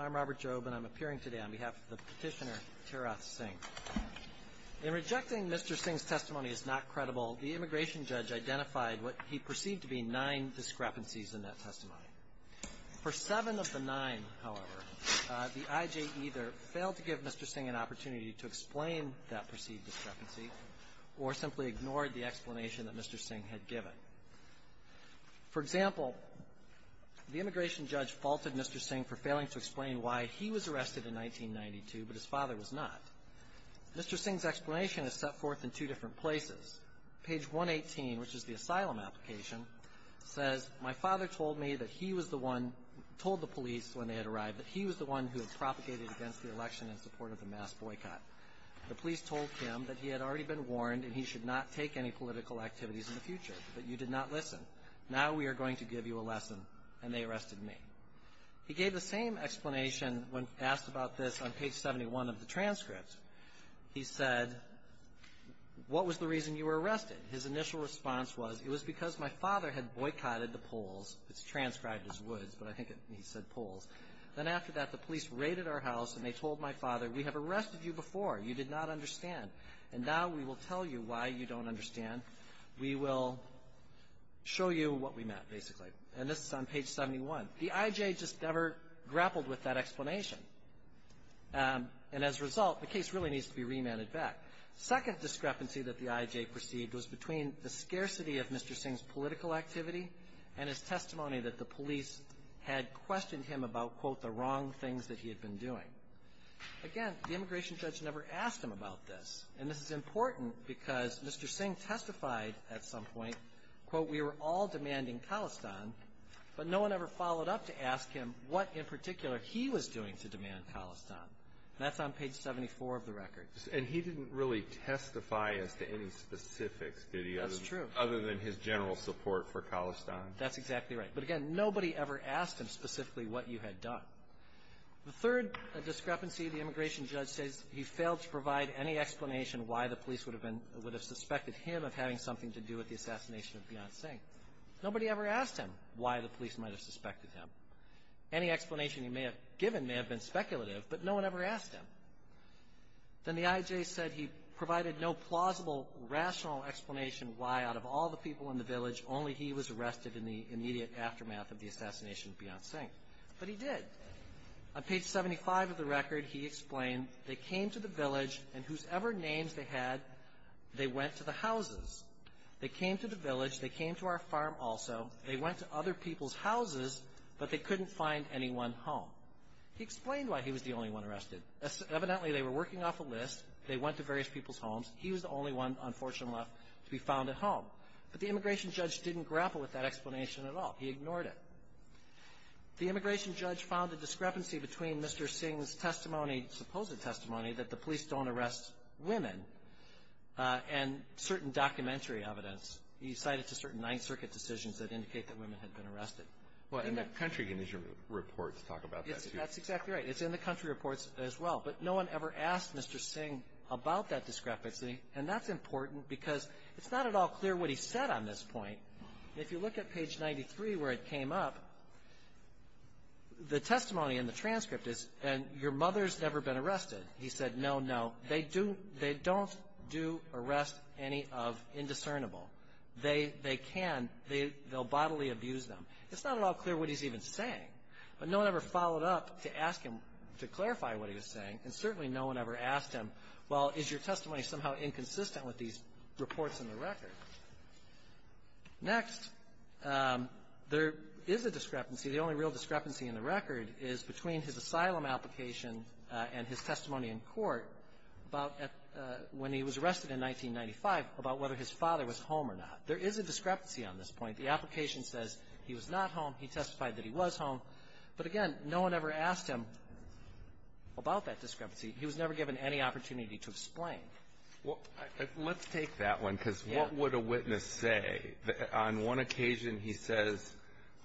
I'm Robert Jobe, and I'm appearing today on behalf of the Petitioner, Tara Singh. In rejecting Mr. Singh's testimony as not credible, the immigration judge identified what he perceived to be nine discrepancies in that testimony. For seven of the nine, however, the I.J. either failed to give Mr. Singh an opportunity to explain that perceived discrepancy or simply ignored the explanation that Mr. Singh had given. For example, the immigration judge faulted Mr. Singh for failing to explain why he was arrested in 1992, but his father was not. Mr. Singh's explanation is set forth in two different places. Page 118, which is the asylum application, says, My father told me that he was the one, told the police when they had arrived, that he was the one who had propagated against the election in support of the mass boycott. The police told him that he had already been warned and he should not take any political activities in the future, but you did not listen. Now we are going to give you a lesson, and they arrested me. He gave the same explanation when asked about this on page 71 of the transcript. He said, What was the reason you were arrested? His initial response was, It was because my father had boycotted the polls. It's transcribed as woods, but I think he said Then after that, the police raided our house and they told my father, We have arrested you before. You did not understand. And now we will tell you why you don't understand. We will show you what we meant, basically. And this is on page 71. The IJ just never grappled with that explanation, and as a result, the case really needs to be remanded back. Second discrepancy that the IJ perceived was between the scarcity of Mr. Singh's political activity and his testimony that the police had questioned him about, quote, the wrong things that he had been doing. Again, the immigration judge never asked him about this, and this is important because Mr. Singh testified at some point, quote, We were all demanding Khalistan, but no one ever followed up to ask him what in particular he was doing to demand Khalistan. That's on page 74 of the record. And he didn't really testify as to any specifics, did he? That's true. Other than his general support for Khalistan. That's exactly right. But again, nobody ever asked him specifically what you had done. The third discrepancy, the immigration judge says he failed to provide any explanation why the police would have suspected him of having something to do with the assassination of Beyonce Singh. Nobody ever asked him why the police might have suspected him. Any explanation he may have given may have been speculative, but no one ever asked him. Then the IJ said he provided no plausible, rational explanation why, out of all the people in the village, only he was arrested in the immediate aftermath of the assassination of Beyonce Singh. But he did. On page 75 of the record, he explained, They came to the village, and whosoever names they had, they went to the houses. They came to the village. They came to our farm also. They went to other people's houses, but they couldn't find any one home. He explained why he was the only one arrested. Evidently, they were working off a list. They went to various people's homes. He was the only one, unfortunately, left to be found at home. But the immigration judge didn't grapple with that explanation at all. He ignored it. The immigration judge found a discrepancy between Mr. Singh's testimony, supposed testimony, that the police don't arrest women, and certain documentary evidence. He cited to certain Ninth Circuit decisions that indicate that women had been arrested. And the country reports talk about that, too. That's exactly right. It's in the country reports as well. But no one ever asked Mr. Singh about that discrepancy. And that's important because it's not at all clear what he said on this point. If you look at page 93 where it came up, the testimony in the transcript is, and your mother's never been arrested, he said, no, no, they don't do arrest any of indiscernible. They can. They'll bodily abuse them. It's not at all clear what he's even saying. But no one ever followed up to ask him to clarify what he was saying, and certainly no one ever asked him, well, is your testimony somehow inconsistent with these reports in the record? Next, there is a discrepancy. The only real discrepancy in the record is between his asylum application and his testimony in court about when he was arrested in 1995 about whether his father was home or not. There is a discrepancy on this point. The application says he was not home. He testified that he was home. But, again, no one ever asked him about that discrepancy. He was never given any opportunity to explain. Well, let's take that one because what would a witness say? On one occasion, he says,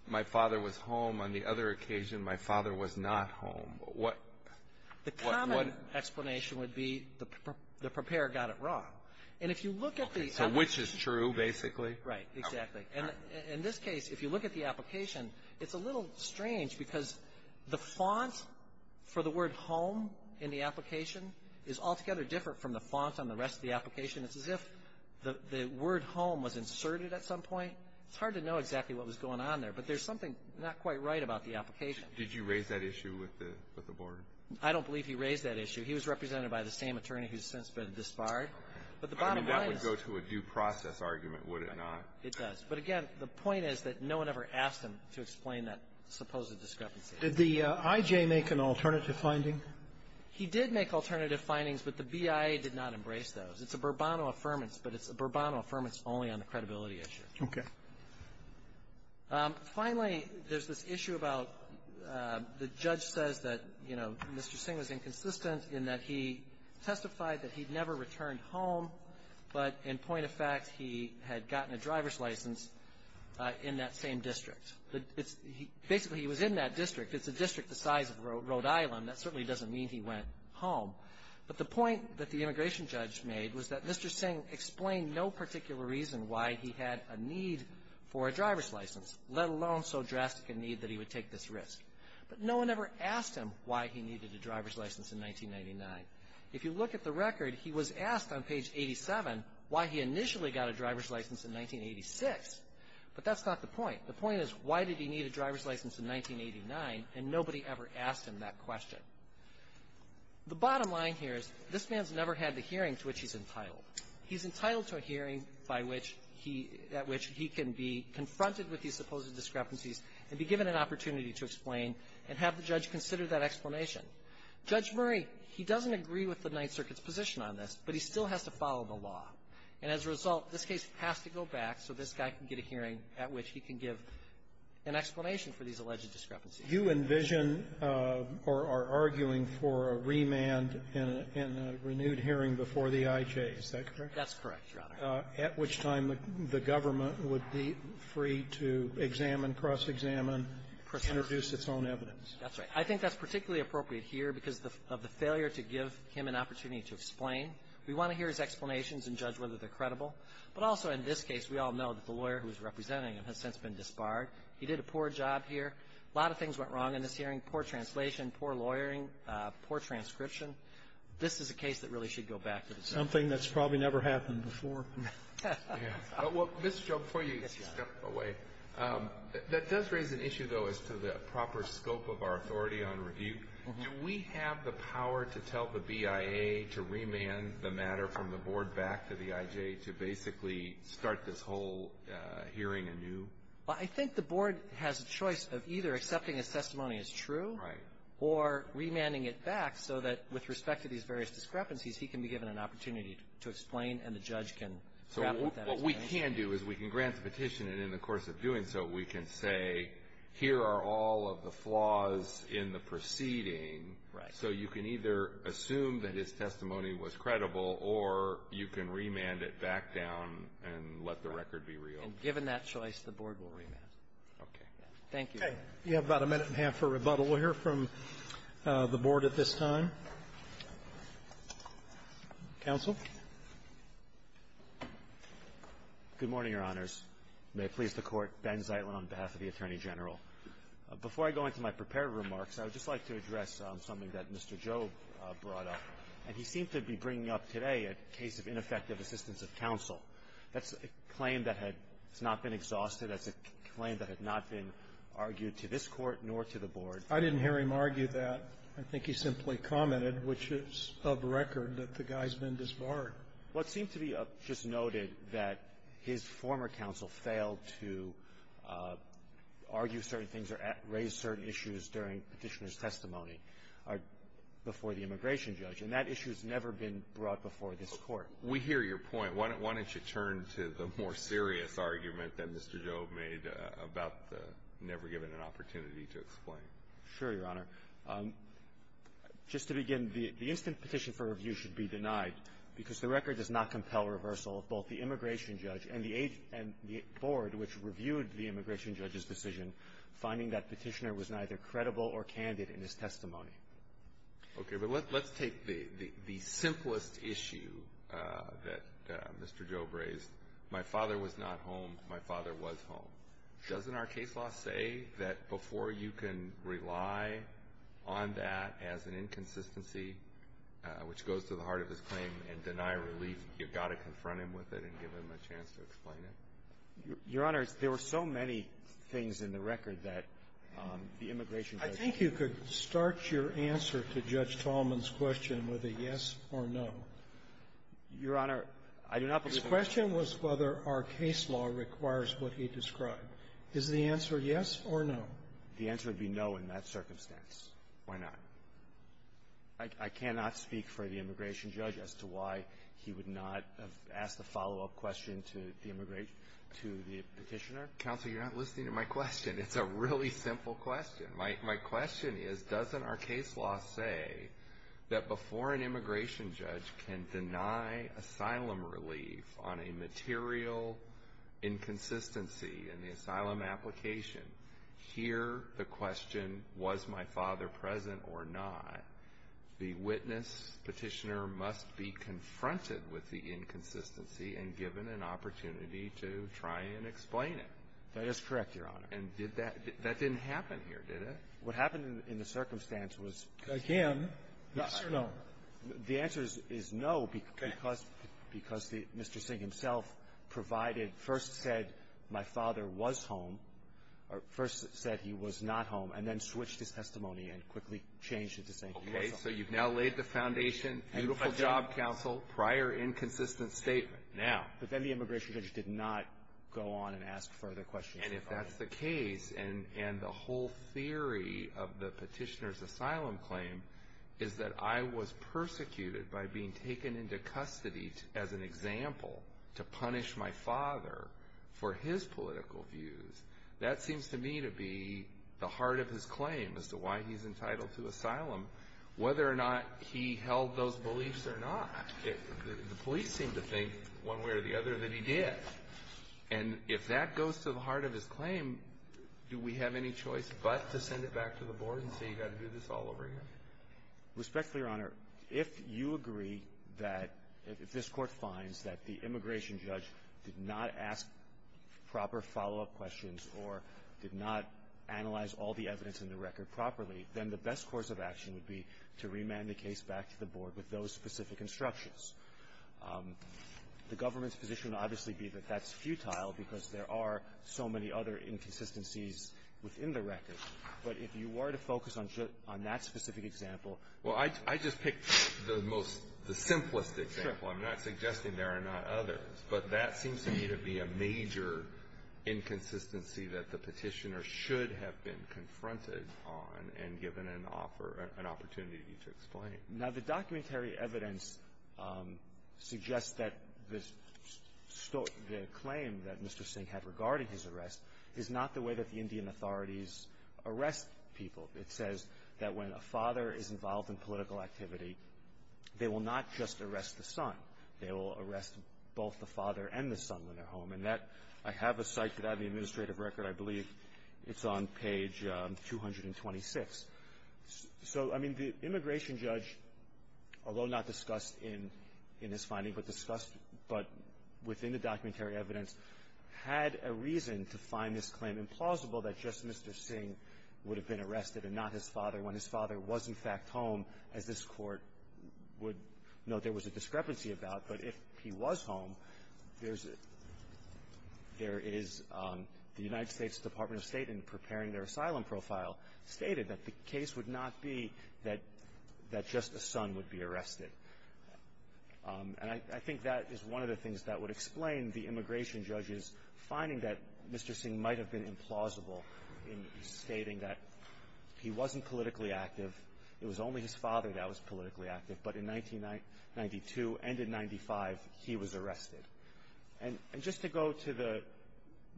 my father was home. On the other occasion, my father was not home. What? The common explanation would be the preparer got it wrong. And if you look at the application. So which is true, basically? Right. Exactly. In this case, if you look at the application, it's a little strange because the font for the word home in the application is altogether different from the font on the rest of the application. It's as if the word home was inserted at some point. It's hard to know exactly what was going on there. But there's something not quite right about the application. Did you raise that issue with the board? I don't believe he raised that issue. He was represented by the same attorney who's since been disbarred. But the bottom line is — I mean, that would go to a due process argument, would it not? It does. But, again, the point is that no one ever asked him to explain that supposed discrepancy. Did the I.J. make an alternative finding? He did make alternative findings, but the BIA did not embrace those. It's a Burbano affirmance, but it's a Burbano affirmance only on the credibility issue. Okay. Finally, there's this issue about the judge says that, you know, Mr. Singh was inconsistent in that he testified that he'd never returned home, but in point of fact, he had gotten a driver's license in that same district. Basically, he was in that district. It's a district the size of Rhode Island. That certainly doesn't mean he went home. But the point that the immigration judge made was that Mr. Singh explained no particular reason why he had a need for a driver's license, let alone so drastic a need that he would take this risk. But no one ever asked him why he needed a driver's license in 1999. If you look at the record, he was asked on page 87 why he initially got a driver's license in 1986. But that's not the point. The point is, why did he need a driver's license in 1989? And nobody ever asked him that question. The bottom line here is this man's never had the hearing to which he's entitled. He's entitled to a hearing by which he at which he can be confronted with these supposed discrepancies and be given an opportunity to explain and have the judge consider that explanation. Judge Murray, he doesn't agree with the Ninth Circuit's position on this, but he still has to follow the law. And as a result, this case has to go back so this guy can get a hearing at which he can give an explanation for these alleged discrepancies. You envision or are arguing for a remand and a renewed hearing before the IJ. Is that correct? That's correct, Your Honor. At which time the government would be free to examine, cross-examine, introduce its own evidence. That's right. I think that's particularly appropriate here because of the failure to give him an opportunity to explain. We want to hear his explanations and judge whether they're credible. But also in this case, we all know that the lawyer who was representing him has since been disbarred. He did a poor job here. A lot of things went wrong in this hearing, poor translation, poor lawyering, poor transcription. This is a case that really should go back to the circuit. Something that's probably never happened before. Yeah. Well, Mr. Joe, before you step away, that does raise an issue, though, as to the proper scope of our authority on review. Do we have the power to tell the BIA to remand the matter from the Board back to the IJ to basically start this whole hearing anew? Well, I think the Board has a choice of either accepting a testimony as true or remanding it back so that with respect to these various discrepancies, he can be given an opportunity to explain and the judge can grapple with that as well. So what we can do is we can grant the petition, and in the course of doing so, we can say, here are all of the flaws in the proceeding. Right. So you can either assume that his testimony was credible or you can remand it back down and let the record be real. And given that choice, the Board will remand. Okay. Thank you. Okay. You have about a minute and a half for rebuttal. We'll hear from the Board at this time. Counsel. Good morning, Your Honors. May it please the Court. Ben Zeitlin on behalf of the Attorney General. Before I go into my prepared remarks, I would just like to address something that Mr. Joe brought up. And he seemed to be bringing up today a case of ineffective assistance of counsel. That's a claim that had not been exhausted. That's a claim that had not been argued to this Court nor to the Board. I didn't hear him argue that. I think he simply commented, which is of record, that the guy's been disbarred. Well, it seemed to be just noted that his former counsel failed to argue certain things or raise certain issues during Petitioner's testimony before the immigration judge, and that issue has never been brought before this Court. We hear your point. Why don't you turn to the more serious argument that Mr. Joe made about the never given an opportunity to explain. Sure, Your Honor. Just to begin, the instant petition for review should be denied because the record does not compel reversal of both the immigration judge and the board, which reviewed the immigration judge's decision, finding that Petitioner was neither credible or candid in his testimony. Okay. But let's take the simplest issue that Mr. Joe raised. My father was not home. My father was home. Doesn't our case law say that before you can rely on that as an inconsistency, which goes to the heart of his claim, and deny relief, you've got to confront him with it and give him a chance to explain it? Your Honor, there were so many things in the record that the immigration judge Do you think you could start your answer to Judge Tallman's question with a yes or no? Your Honor, I do not. The question was whether our case law requires what he described. Is the answer yes or no? The answer would be no in that circumstance. Why not? I cannot speak for the immigration judge as to why he would not have asked the follow-up question to the immigration judge, to the Petitioner. Counsel, you're not listening to my question. It's a really simple question. My question is, doesn't our case law say that before an immigration judge can deny asylum relief on a material inconsistency in the asylum application, here the question, was my father present or not, the witness, Petitioner, must be confronted with the inconsistency and given an opportunity to try and explain it? That is correct, Your Honor. And did that — that didn't happen here, did it? What happened in the circumstance was — Again, yes or no? The answer is no because — Okay. Because Mr. Singh himself provided, first said, my father was home, or first said he was not home, and then switched his testimony and quickly changed it to saying he was home. Okay. So you've now laid the foundation, beautiful job, counsel, prior inconsistent statement. Now — But then the immigration judge did not go on and ask further questions. And if that's the case, and the whole theory of the petitioner's asylum claim is that I was persecuted by being taken into custody as an example to punish my father for his political views, that seems to me to be the heart of his claim as to why he's entitled to asylum, whether or not he held those beliefs or not. The police seem to think one way or the other that he did. And if that goes to the heart of his claim, do we have any choice but to send it back to the Board and say you've got to do this all over again? Respectfully, Your Honor, if you agree that — if this Court finds that the immigration judge did not ask proper follow-up questions or did not analyze all the evidence in the record properly, then the best course of action would be to remand the case back to the Board with those specific instructions. The government's position would obviously be that that's futile because there are so many other inconsistencies within the record. But if you were to focus on that specific example — Well, I just picked the most — the simplest example. I'm not suggesting there are not others. But that seems to me to be a major inconsistency that the petitioner should have been confronted on and given an offer — an opportunity to explain. Now, the documentary evidence suggests that the claim that Mr. Singh had regarding his arrest is not the way that the Indian authorities arrest people. It says that when a father is involved in political activity, they will not just arrest the son. They will arrest both the father and the son when they're home. And that — I have a site that I have the administrative record. I believe it's on page 226. So, I mean, the immigration judge, although not discussed in his finding, but discussed — but within the documentary evidence, had a reason to find this claim implausible that just Mr. Singh would have been arrested and not his father when his father was, in fact, home, as this Court would note there was a discrepancy about. But if he was home, there's — there is — the United States Department of State, in preparing their asylum profile, stated that the case would not be that — that just the son would be arrested. And I think that is one of the things that would explain the immigration judge's finding that Mr. Singh might have been implausible in stating that he wasn't politically active. It was only his father that was politically active. But in 1992 and in 95, he was arrested. And just to go to the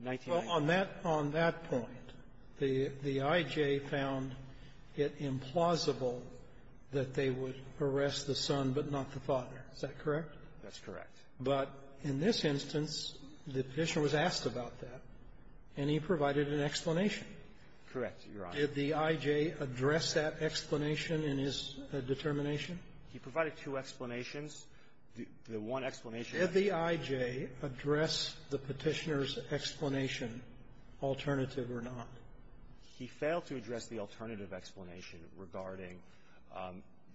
1990s — The I.J. found it implausible that they would arrest the son but not the father. Is that correct? That's correct. But in this instance, the Petitioner was asked about that, and he provided an explanation. Correct, Your Honor. Did the I.J. address that explanation in his determination? He provided two explanations. The one explanation — Did the I.J. address the Petitioner's explanation, alternative or not? He failed to address the alternative explanation regarding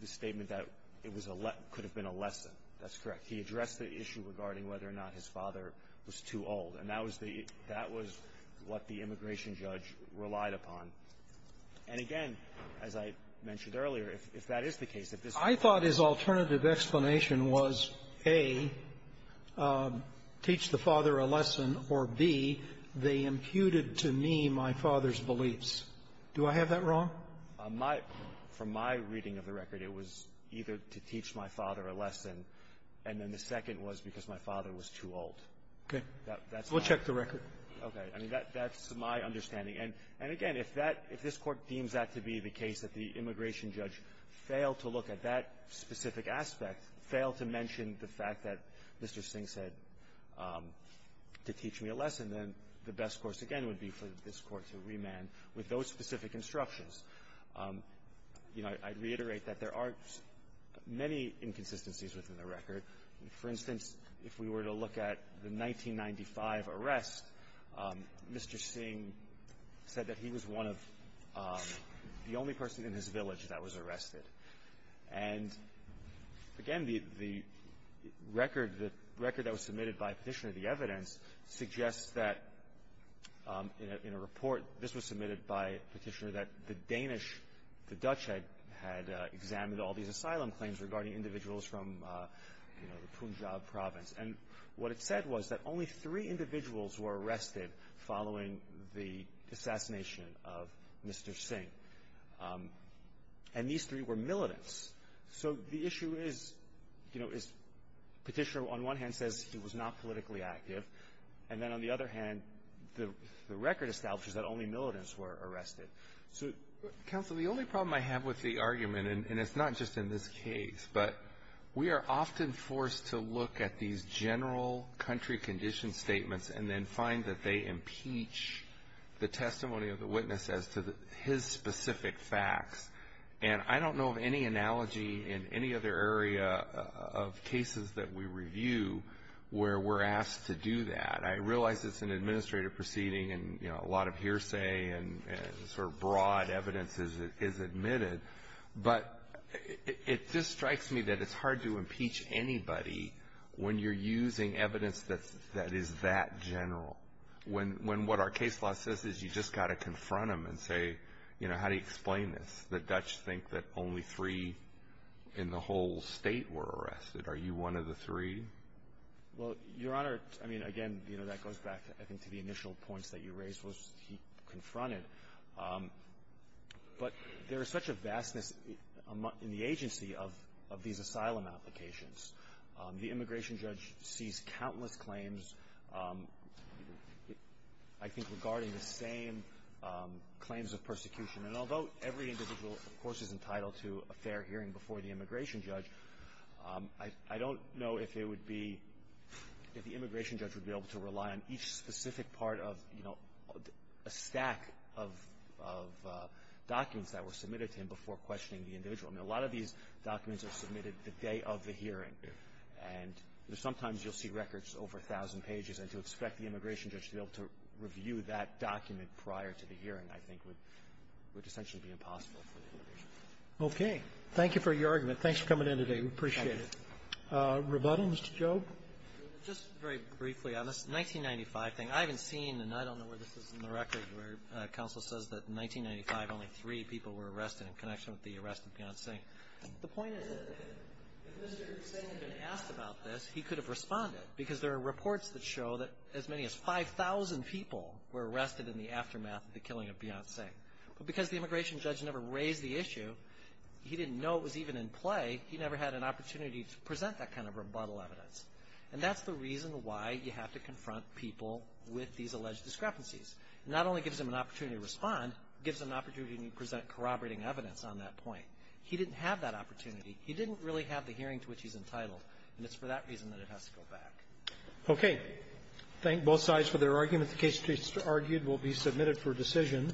the statement that it was a — could have been a lesson. That's correct. He addressed the issue regarding whether or not his father was too old. And that was the — that was what the immigration judge relied upon. And again, as I mentioned earlier, if that is the case, if this — I thought his alternative explanation was, A, teach the father a lesson, or, B, they imputed to me my father's beliefs. Do I have that wrong? My — from my reading of the record, it was either to teach my father a lesson, and then the second was because my father was too old. Okay. That's my — We'll check the record. Okay. I mean, that's my understanding. And again, if that — if this Court deems that to be the case, that the immigration judge failed to look at that specific aspect, failed to mention the fact that Mr. Singh said to teach me a lesson, then the best course, again, would be for this Court to remand with those specific instructions. You know, I'd reiterate that there are many inconsistencies within the record. For instance, if we were to look at the 1995 arrest, Mr. Singh said that he was one of the only persons in his village that was arrested. And again, the record — the record that was submitted by Petitioner, the evidence, suggests that in a — in a report, this was submitted by Petitioner, that the Danish — the Dutch had examined all these asylum claims regarding individuals from, you know, the Punjab province. And what it said was that only three individuals were arrested following the assassination of Mr. Singh. And these three were militants. So the issue is, you know, is Petitioner on one hand says he was not politically active, and then on the other hand, the record establishes that only militants were arrested. So — Alito, the only problem I have with the argument, and it's not just in this case, but we are often forced to look at these general country condition statements and then find that they impeach the testimony of the witness as to his specific facts. And I don't know of any analogy in any other area of cases that we review where we're asked to do that. I realize it's an administrative proceeding and, you know, a lot of hearsay and sort of broad evidence is admitted. But it just strikes me that it's hard to impeach anybody when you're using evidence that is that general, when what our case law says is you just got to confront them and say, you know, how do you explain this, that Dutch think that only three in the whole state were arrested. Are you one of the three? Well, Your Honor, I mean, again, you know, that goes back, I think, to the initial points that you raised, which he confronted. But there is such a vastness in the agency of these asylum applications. The immigration judge sees countless claims, I think, regarding the same claims of persecution. And although every individual, of course, is entitled to a fair hearing before the immigration judge, I don't know if it would be, if the immigration judge would be able to rely on each specific part of, you know, a stack of documents that were submitted to him before questioning the individual. I mean, a lot of these documents are submitted the day of the hearing. And sometimes you'll see records over 1,000 pages. And to expect the immigration judge to be able to review that document prior to the hearing, I think, would essentially be impossible for the immigration judge. Roberts. Okay. Thank you for your argument. Thanks for coming in today. We appreciate it. Rebuttal, Mr. Jobe? Just very briefly on this 1995 thing. I haven't seen, and I don't know where this is in the record, where counsel says that in 1995 only three people were arrested in connection with the arrest of Beyonce Singh. The point is that if Mr. Singh had been asked about this, he could have responded because there are reports that show that as many as 5,000 people were arrested in the aftermath of the killing of Beyonce. But because the immigration judge never raised the issue, he didn't know it was even in play, he never had an opportunity to present that kind of rebuttal evidence. And that's the reason why you have to confront people with these alleged discrepancies. It not only gives them an opportunity to respond, it gives them an opportunity to present corroborating evidence on that point. He didn't have that opportunity. He didn't really have the hearing to which he's entitled, and it's for that reason that it has to go back. Okay. Thank both sides for their argument. The case argued will be submitted for decision.